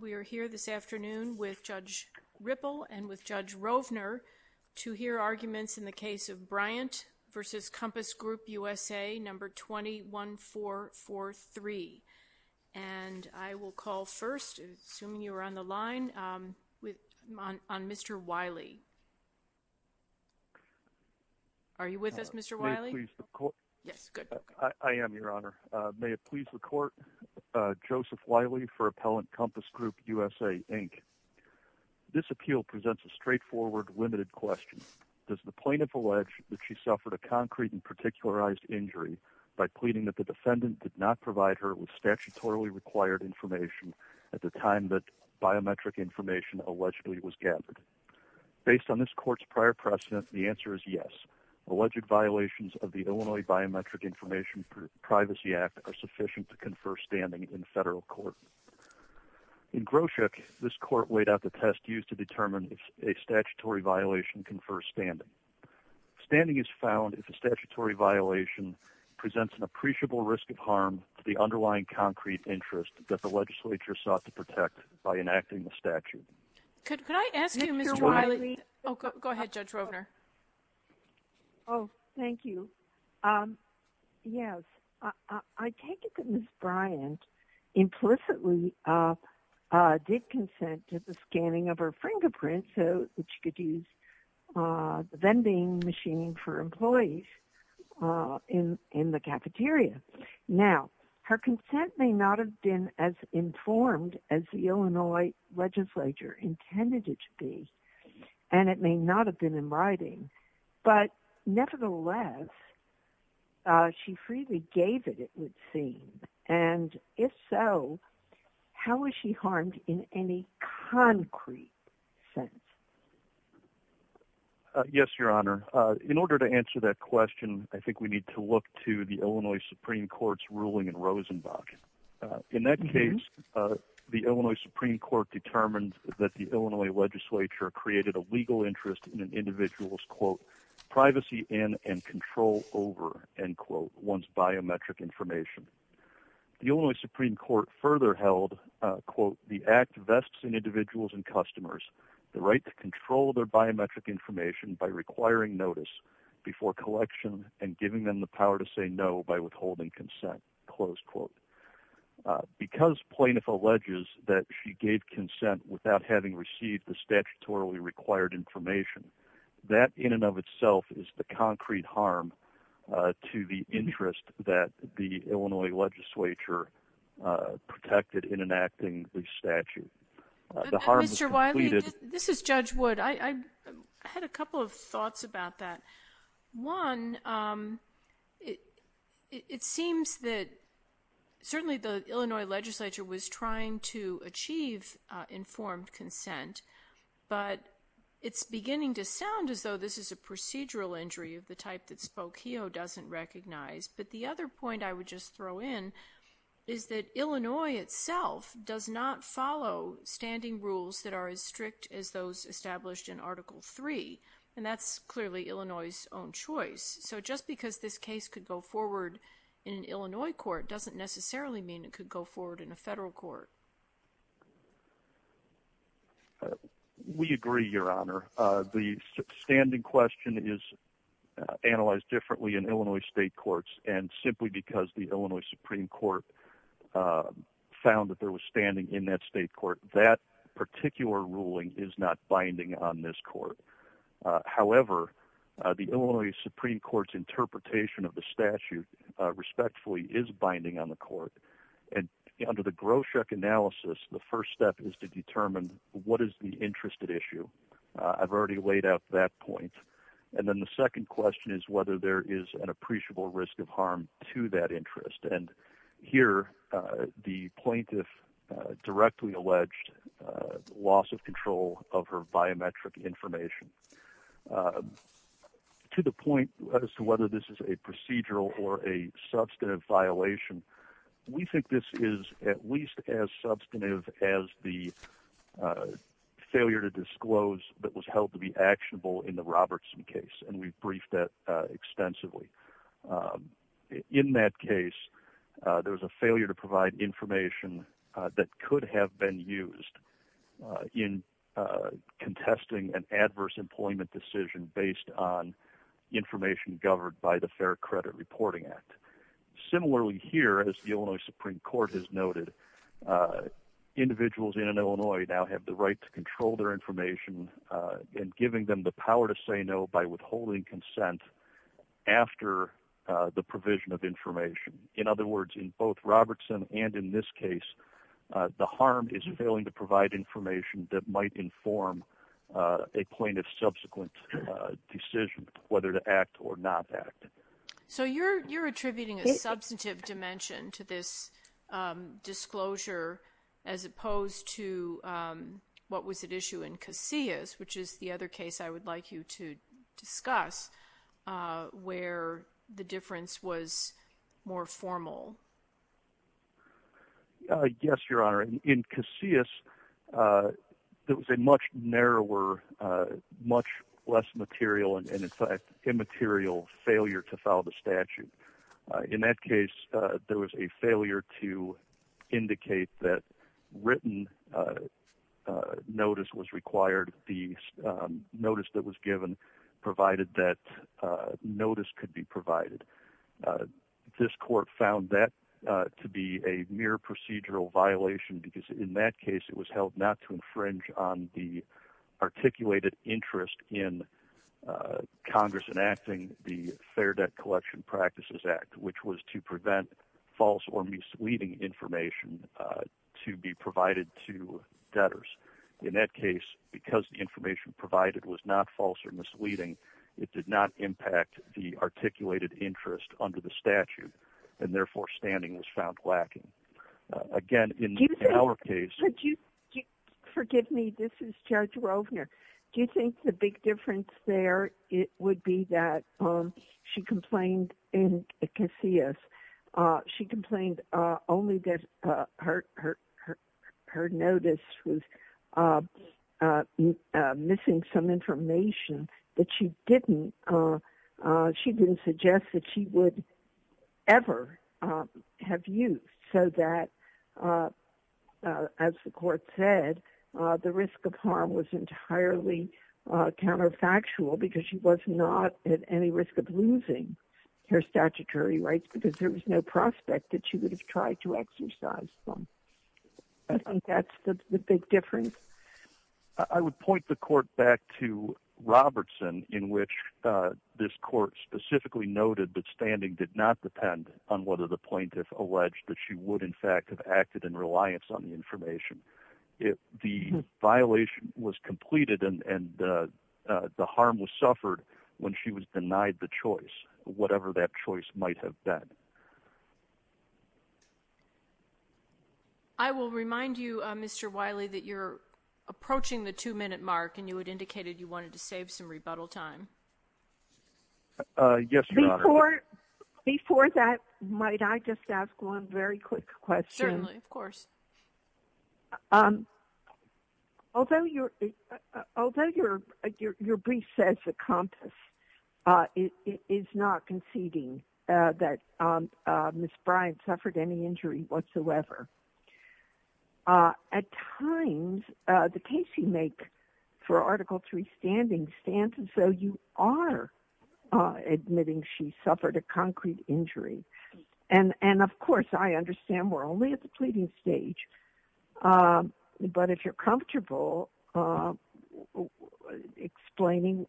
We are here this afternoon with Judge Ripple and with Judge Rovner to hear arguments in the case of Bryant v. Compass Group U.S.A., No. 21443. I will call first, assuming you are on the line, on Mr. Wiley. Are you with us, Mr. Wiley? Yes, good. I am, Your Honor. I am with you and I am with you. I'm here to hear arguments in the case of Judge Ropner v. Compass Group U.S.A., Inc. This appeal presents a straightforward, limited question. Does the plaintiff allege that she suffered a concrete and particularized injury by pleading that the defendant did not provide her with statutorily required information at the time that biometric information allegedly was gathered? Based on this court's prior precedent, the answer is yes. Alleged violations of the Illinois Biometric Information Privacy Act are sufficient to confer standing in federal court. In Groshek, this court weighed out the test used to determine if a statutory violation confers standing. Standing is found if a statutory violation presents an appreciable risk of harm to the underlying concrete interest that the legislature sought to protect by enacting the statute. Could I ask you, Mr. Wiley? Oh, go ahead, Judge Ropner. Oh, thank you. Yes, I take it that Ms. Bryant implicitly did consent to the scanning of her fingerprint so that she could use the vending machine for employees in the cafeteria. Now, her consent may not have been as informed as the Illinois legislature intended it to be, and it may not have been in writing. But nevertheless, she freely gave it, it would seem. And if so, how was she harmed in any concrete sense? Yes, Your Honor. In order to answer that question, I think we need to look to the Illinois Supreme Court's ruling in Rosenbach. In that case, the Illinois Supreme Court determined that the Illinois legislature created a legal interest in an individual's, quote, privacy in and control over, end quote, one's biometric information. The Illinois Supreme Court further held, quote, the act vests in individuals and customers the right to control their biometric information by requiring notice before collection and giving them the power to say no by withholding consent, close quote. Because plaintiff alleges that she gave consent without having received the statutorily required information, that in and of itself is the concrete harm to the interest that the Illinois legislature protected in enacting the statute. Mr. Wiley, this is Judge Wood. I had a couple of thoughts about that. One, it seems that certainly the Illinois legislature was trying to achieve informed consent, but it's beginning to sound as though this is a procedural injury of the type that Spokio doesn't recognize. But the other point I would just throw in is that Illinois itself does not follow standing rules that are as strict as those established in Article III, and that's clearly Illinois's own choice. So just because this case could go forward in an Illinois court doesn't necessarily mean it could go forward in a federal court. We agree, Your Honor. The standing question is analyzed differently in Illinois state courts, and simply because the Illinois Supreme Court found that there was standing in that state court, that particular ruling is not binding on this court. However, the Illinois Supreme Court's interpretation of the statute respectfully is binding on the court. And under the Groshek analysis, the first step is to determine what is the interest at issue. I've already laid out that point. And then the second question is whether there is an appreciable risk of harm to that interest. And here, the plaintiff directly alleged loss of control of her biometric information. To the point as to whether this is a procedural or a substantive violation, we think this is at least as substantive as the failure to disclose that was held to be actionable in the Robertson case, and we've briefed that extensively. In that case, there was a failure to provide information that could have been used in contesting an adverse employment decision based on information governed by the Fair Credit Reporting Act. Similarly here, as the Illinois Supreme Court has noted, individuals in Illinois now have the right to control their information and giving them the power to say no by withholding consent after the provision of information. In other words, in both Robertson and in this case, the harm is failing to provide information that might inform a plaintiff's subsequent decision whether to act or not act. So you're attributing a substantive dimension to this disclosure as opposed to what was at issue in Casillas, which is the other case I would like you to discuss where the difference was more formal. Yes, Your Honor. In Casillas, there was a much narrower, much less material and in fact immaterial failure to file the statute. In that case, there was a failure to indicate that written notice was required, the notice that was given provided that notice could be provided. This court found that to be a mere procedural violation because in that case, it was held not to infringe on the articulated interest in Congress enacting the Fair Debt Collection Practices Act, which was to prevent false or misleading information to be provided to debtors. In that case, because the information provided was not false or misleading, it did not impact the articulated interest under the statute and therefore standing was found lacking. Again, in our case... Forgive me, this is Judge Rovner. Do you think the big difference there would be that she complained in Casillas, she complained only that her notice was missing some information that she didn't suggest that she would ever have used so that, as the court said, the risk of harm was entirely counterfactual because she was not at any risk of losing her statutory rights because there was no prospect that she would have tried to exercise them. I think that's the big difference. I would point the court back to Robertson in which this court specifically noted that standing did not depend on whether the plaintiff alleged that she would in fact have acted in reliance on the information. The violation was completed and the harm was suffered when she was denied the choice, whatever that choice might have been. I will remind you, Mr. Wiley, that you're approaching the two-minute mark and you had indicated you wanted to save some rebuttal time. Yes, Your Honor. Before that, might I just ask one very quick question? Certainly, of course. Although your brief says the compass is not conceding that Ms. Bryant suffered any injury whatsoever, at times the case you make for Article III standing stands as though you are admitting she suffered a concrete injury. Of course, I understand we're only at the pleading stage, but if you're comfortable explaining,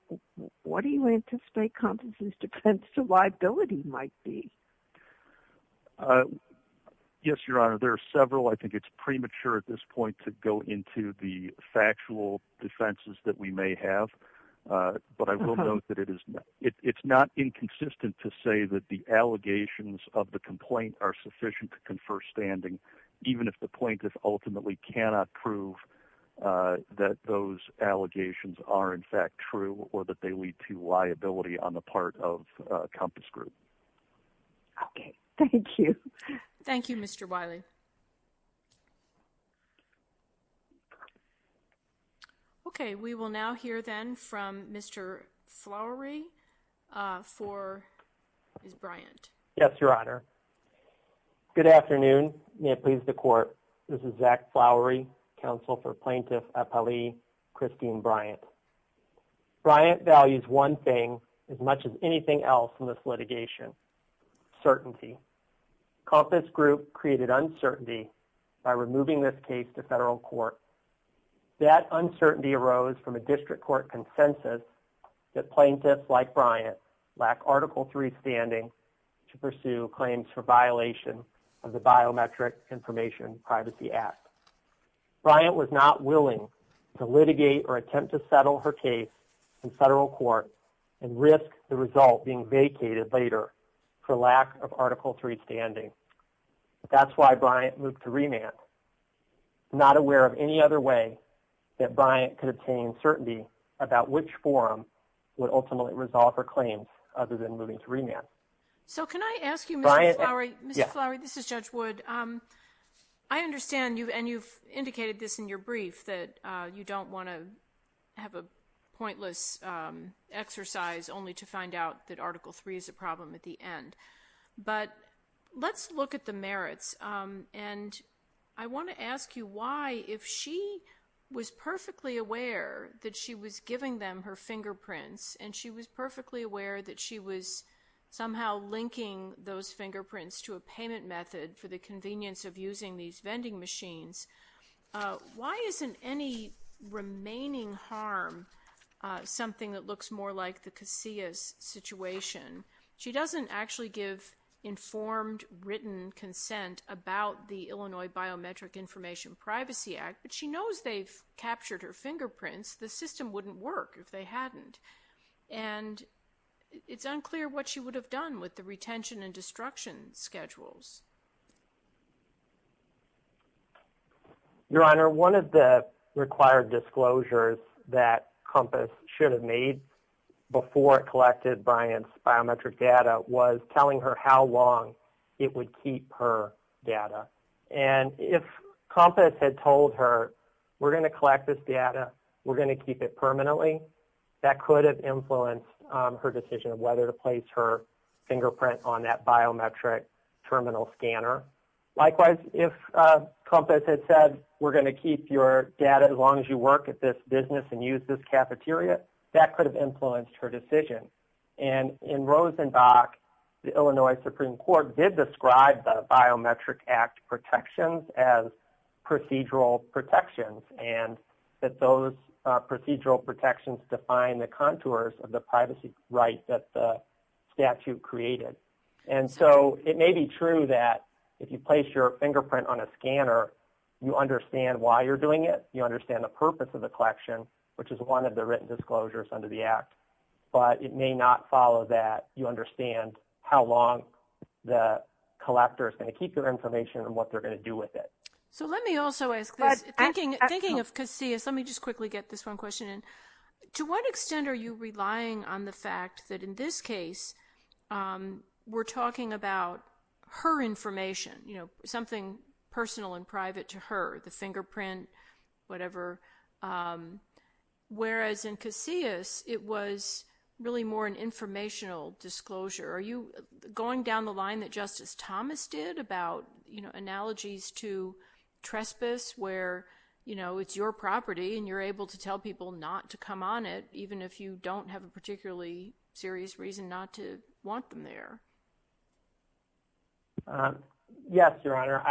what do you anticipate Compton's defense liability might be? Yes, Your Honor. There are several. I think it's premature at this point to go into the factual defenses that we may have, but I will note that it's not inconsistent to say that the allegations of the complaint are sufficient to confer standing, even if the plaintiff ultimately cannot prove that those allegations are, in fact, true or that they lead to liability on the part of Compass Group. Okay. Thank you. Thank you, Mr. Wiley. Thank you. Okay. We will now hear then from Mr. Flowery for Ms. Bryant. Yes, Your Honor. Good afternoon. May it please the Court. This is Zach Flowery, Counsel for Plaintiff Appali Christine Bryant. Bryant values one thing as much as anything else in this litigation, certainty. Compass Group created uncertainty by removing this case to federal court. That uncertainty arose from a district court consensus that plaintiffs like Bryant lack Article III standing to pursue claims for violation of the Biometric Information Privacy Act. Bryant was not willing to litigate or attempt to settle her case in federal court and risk the result being vacated later for lack of Article III standing. That's why Bryant moved to remand, not aware of any other way that Bryant could obtain certainty about which forum would ultimately resolve her claims other than moving to remand. So can I ask you, Mr. Flowery? Yes. Mr. Flowery, this is Judge Wood. I understand you've indicated this in your brief that you don't want to have a pointless exercise only to find out that Article III is a problem at the end. But let's look at the merits, and I want to ask you why, if she was perfectly aware that she was giving them her fingerprints and she was perfectly aware that she was somehow linking those fingerprints to a payment method for the convenience of using these vending machines. Why isn't any remaining harm something that looks more like the Casillas situation? She doesn't actually give informed, written consent about the Illinois Biometric Information Privacy Act, but she knows they've captured her fingerprints. The system wouldn't work if they hadn't. And it's unclear what she would have done with the retention and destruction schedules. Your Honor, one of the required disclosures that COMPAS should have made before it collected Bryant's biometric data was telling her how long it would keep her data. And if COMPAS had told her, we're going to collect this data, we're going to keep it permanently, that could have influenced her decision of whether to place her fingerprint on that biometric terminal scanner. Likewise, if COMPAS had said, we're going to keep your data as long as you work at this business and use this cafeteria, that could have influenced her decision. And in Rosenbach, the Illinois Supreme Court did describe the Biometric Act protections as procedural protections, and that those procedural protections define the contours of the privacy rights that the statute created. And so it may be true that if you place your fingerprint on a scanner, you understand why you're doing it, you understand the purpose of the collection, which is one of the written disclosures under the Act, but it may not follow that you understand how long the collector is going to keep their information and what they're going to do with it. So let me also ask this. Thinking of Casillas, let me just quickly get this one question in. To what extent are you relying on the fact that in this case we're talking about her information, you know, something personal and private to her, the fingerprint, whatever, whereas in Casillas it was really more an informational disclosure? Are you going down the line that Justice Thomas did about, you know, analogies to trespass where, you know, it's your property and you're able to tell people not to come on it even if you don't have a particularly serious reason not to want them there? Yes, Your Honor.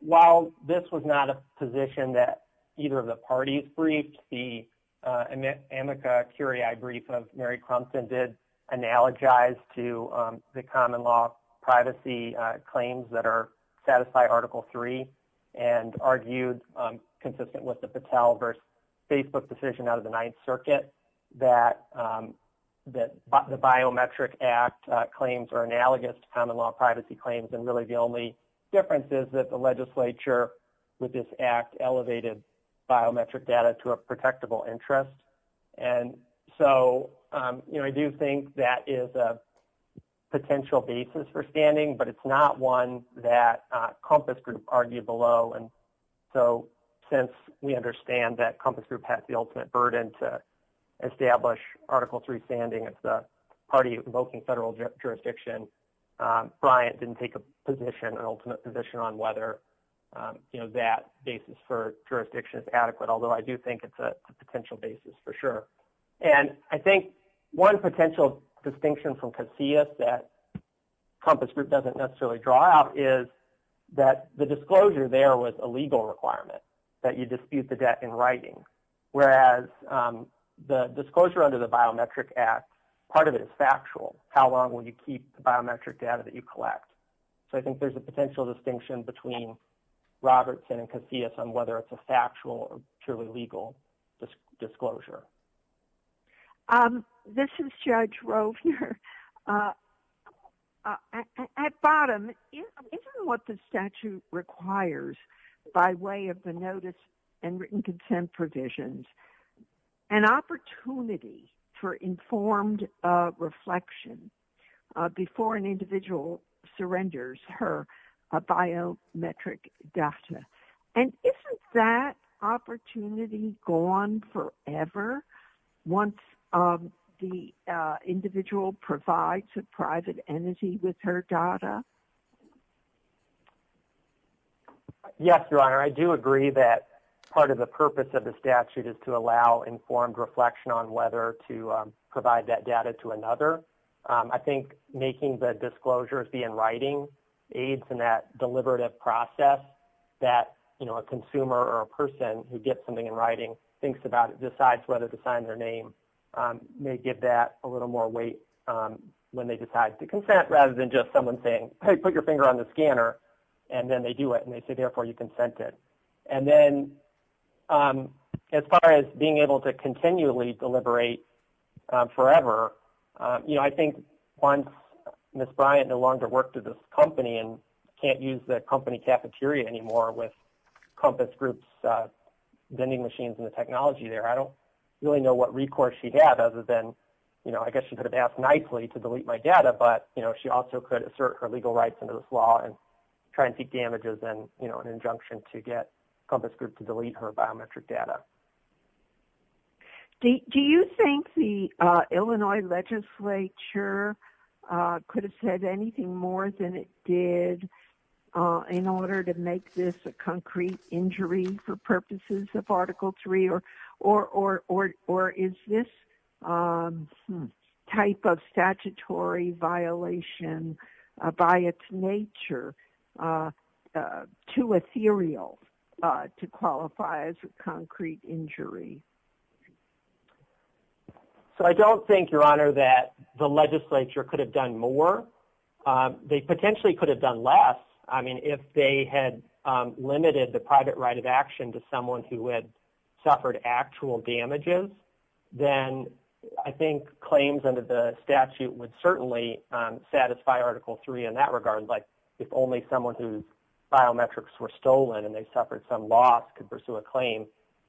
While this was not a position that either of the parties briefed, the Amica Curiae brief of Mary Crumpton did analogize to the common law privacy claims that are satisfied Article III and argued consistent with the Patel versus Facebook decision out of the Ninth Circuit that the biometric act claims are analogous to common law privacy claims and really the only difference is that the legislature with this act elevated biometric data to a protectable interest. And so, you know, I do think that is a potential basis for standing, but it's not one that Compass Group argued below. And so since we understand that Compass Group has the ultimate burden to establish Article III standing as the party invoking federal jurisdiction, Bryant didn't take a position, an ultimate position on whether, you know, that basis for jurisdiction is adequate, although I do think it's a potential basis for sure. And I think one potential distinction from Casillas that Compass Group doesn't necessarily draw out is that the disclosure there was a legal requirement that you dispute the debt in writing, whereas the disclosure under the biometric act, part of it is factual. How long will you keep the biometric data that you collect? So I think there's a potential distinction between Robertson and Casillas on whether it's a factual or purely legal disclosure. This is Judge Rovner. At bottom, isn't what the statute requires by way of the notice and written consent provisions an opportunity for informed reflection before an individual surrenders her biometric data? And isn't that opportunity gone forever once the individual provides a private entity with her data? Yes, Your Honor. I do agree that part of the purpose of the statute is to allow informed reflection on whether to provide that data to another. I think making the disclosures be in writing aids in that deliberative process that a consumer or a person who gets something in writing thinks about it, decides whether to sign their name, may give that a little more weight when they decide to consent rather than just someone saying, hey, put your finger on the scanner. And then they do it, and they say, therefore, you consented. And then as far as being able to continually deliberate forever, I think once Ms. Bryant no longer worked at this company and can't use the company cafeteria anymore with Compass Group's vending machines and the technology there, I don't really know what recourse she had other than I guess she could have asked nicely to delete my data, but she also could assert her legal rights under this law and try and seek damages and an injunction to get Compass Group to delete her biometric data. Do you think the Illinois legislature could have said anything more than it did in order to make this a concrete injury for purposes of Article III, or is this type of statutory violation by its nature too ethereal to qualify as a concrete injury? So I don't think, Your Honor, that the legislature could have done more. They potentially could have done less. I mean, if they had limited the private right of action to someone who had suffered actual damages, then I think claims under the statute would certainly satisfy Article III in that regard, like if only someone whose biometrics were stolen and they suffered some loss could pursue a claim,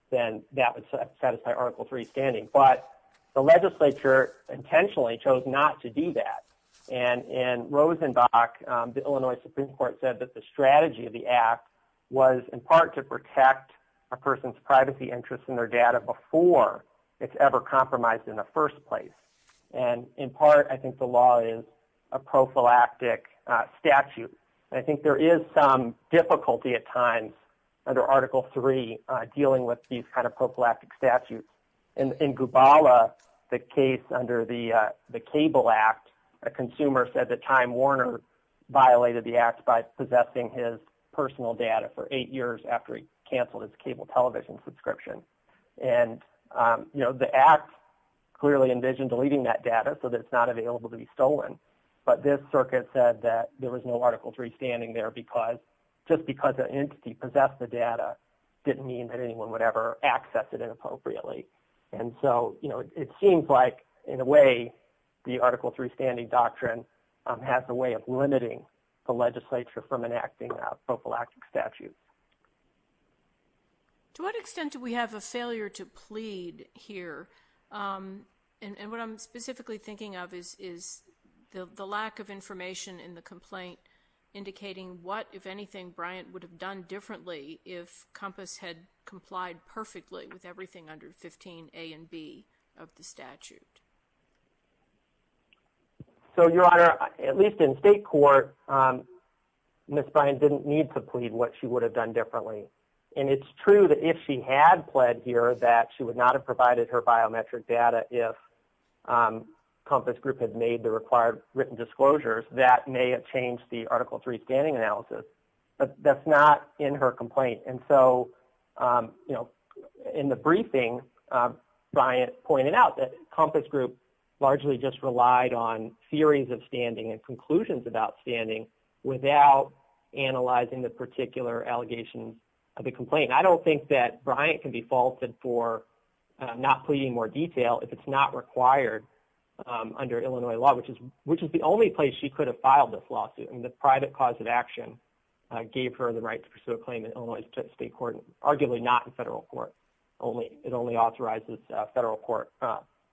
then that would satisfy Article III standing. But the legislature intentionally chose not to do that. And in Rosenbach, the Illinois Supreme Court said that the strategy of the act was in part to protect a person's privacy interests and their data before it's ever compromised in the first place. And in part, I think the law is a prophylactic statute. And I think there is some difficulty at times under Article III dealing with these kind of prophylactic statutes. In Gubala, the case under the Cable Act, a consumer said that Time Warner violated the person's personal data for eight years after he canceled his cable television subscription. And, you know, the act clearly envisioned deleting that data so that it's not available to be stolen. But this circuit said that there was no Article III standing there because just because an entity possessed the data didn't mean that anyone would ever access it inappropriately. And so, you know, it seems like in a way the Article III standing doctrine has a way of being a prophylactic statute. To what extent do we have a failure to plead here? And what I'm specifically thinking of is the lack of information in the complaint indicating what, if anything, Bryant would have done differently if COMPASS had complied perfectly with everything under 15 A and B of the statute. So, Your Honor, at least in state court, Ms. Bryant didn't need to plead what she would have done differently. And it's true that if she had pled here that she would not have provided her biometric data if COMPASS Group had made the required written disclosures that may have changed the Article III standing analysis. But that's not in her complaint. And so, you know, in the briefing, Bryant pointed out that COMPASS Group largely just relied on theories of standing and conclusions about standing without analyzing the particular allegations of the complaint. I don't think that Bryant can be faulted for not pleading more detail if it's not required under Illinois law, which is the only place she could have filed this lawsuit. And the private cause of action gave her the right to pursue a claim in Illinois state court, arguably not in federal court. It only authorizes a federal court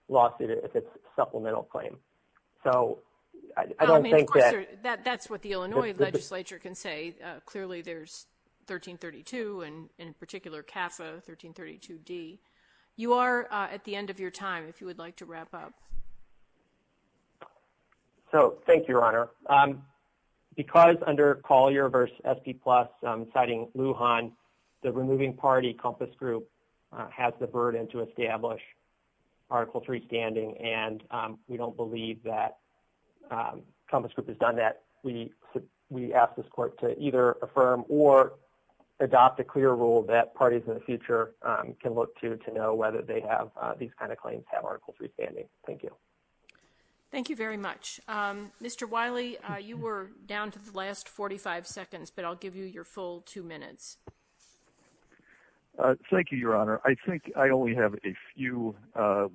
lawsuit if it's a supplemental claim. So, I don't think that... I mean, of course, that's what the Illinois legislature can say. Clearly, there's 1332 and, in particular, CAFA 1332D. You are at the end of your time, if you would like to wrap up. So, thank you, Your Honor. Because under Collier v. SP Plus, citing Lujan, the removing party, COMPASS Group, has the burden to establish Article III standing, and we don't believe that COMPASS Group has done that. We ask this court to either affirm or adopt a clear rule that parties in the future can look to to know whether they have these kind of claims have Article III standing. Thank you. Thank you very much. Mr. Wiley, you were down to the last 45 seconds, but I'll give you your full two minutes. Thank you, Your Honor. I think I only have a few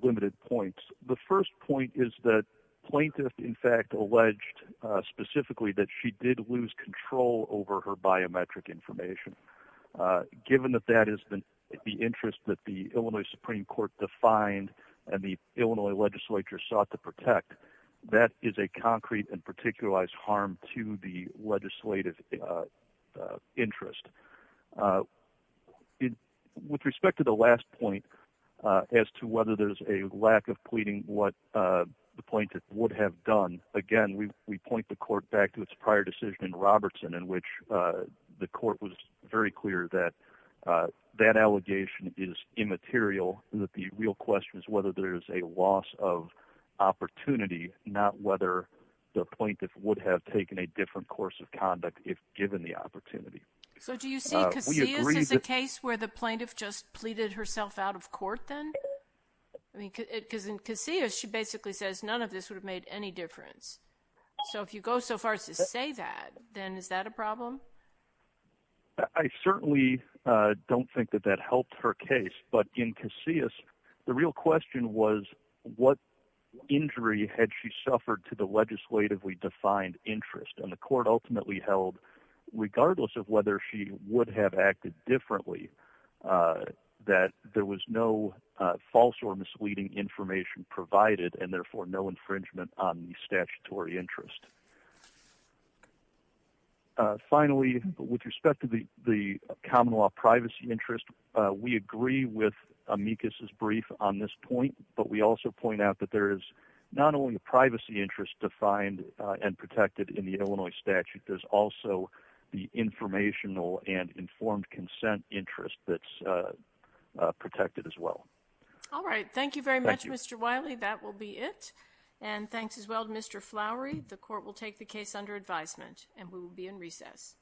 limited points. The first point is that plaintiff, in fact, alleged specifically that she did lose control over her biometric information. Given that that is the interest that the Illinois Supreme Court defined and the Illinois legislature sought to protect, that is a concrete and particularized harm to the legislative interest. With respect to the last point, as to whether there's a lack of pleading, what the plaintiff would have done, again, we point the court back to its prior decision in Robertson, in which the court was very clear that that allegation is immaterial and that the real question is whether there's a loss of opportunity, not whether the plaintiff would have taken a different course of conduct if given the opportunity. So do you see Casillas as a case where the plaintiff just pleaded herself out of court then? I mean, because in Casillas, she basically says none of this would have made any difference. So if you go so far as to say that, then is that a problem? I certainly don't think that that helped her case. But in Casillas, the real question was what injury had she suffered to the legislatively defined interest? And the court ultimately held, regardless of whether she would have acted differently, that there was no false or misleading information provided and therefore no infringement on the statutory interest. Finally, with respect to the common law privacy interest, we agree with Amicus's brief on this point. But we also point out that there is not only a privacy interest defined and protected in the Illinois statute, there's also the informational and informed consent interest that's protected as well. All right. Thank you very much, Mr. Wiley. That will be it. And thanks as well to Mr. Flowery. The court will take the case under advisement and we will be in recess.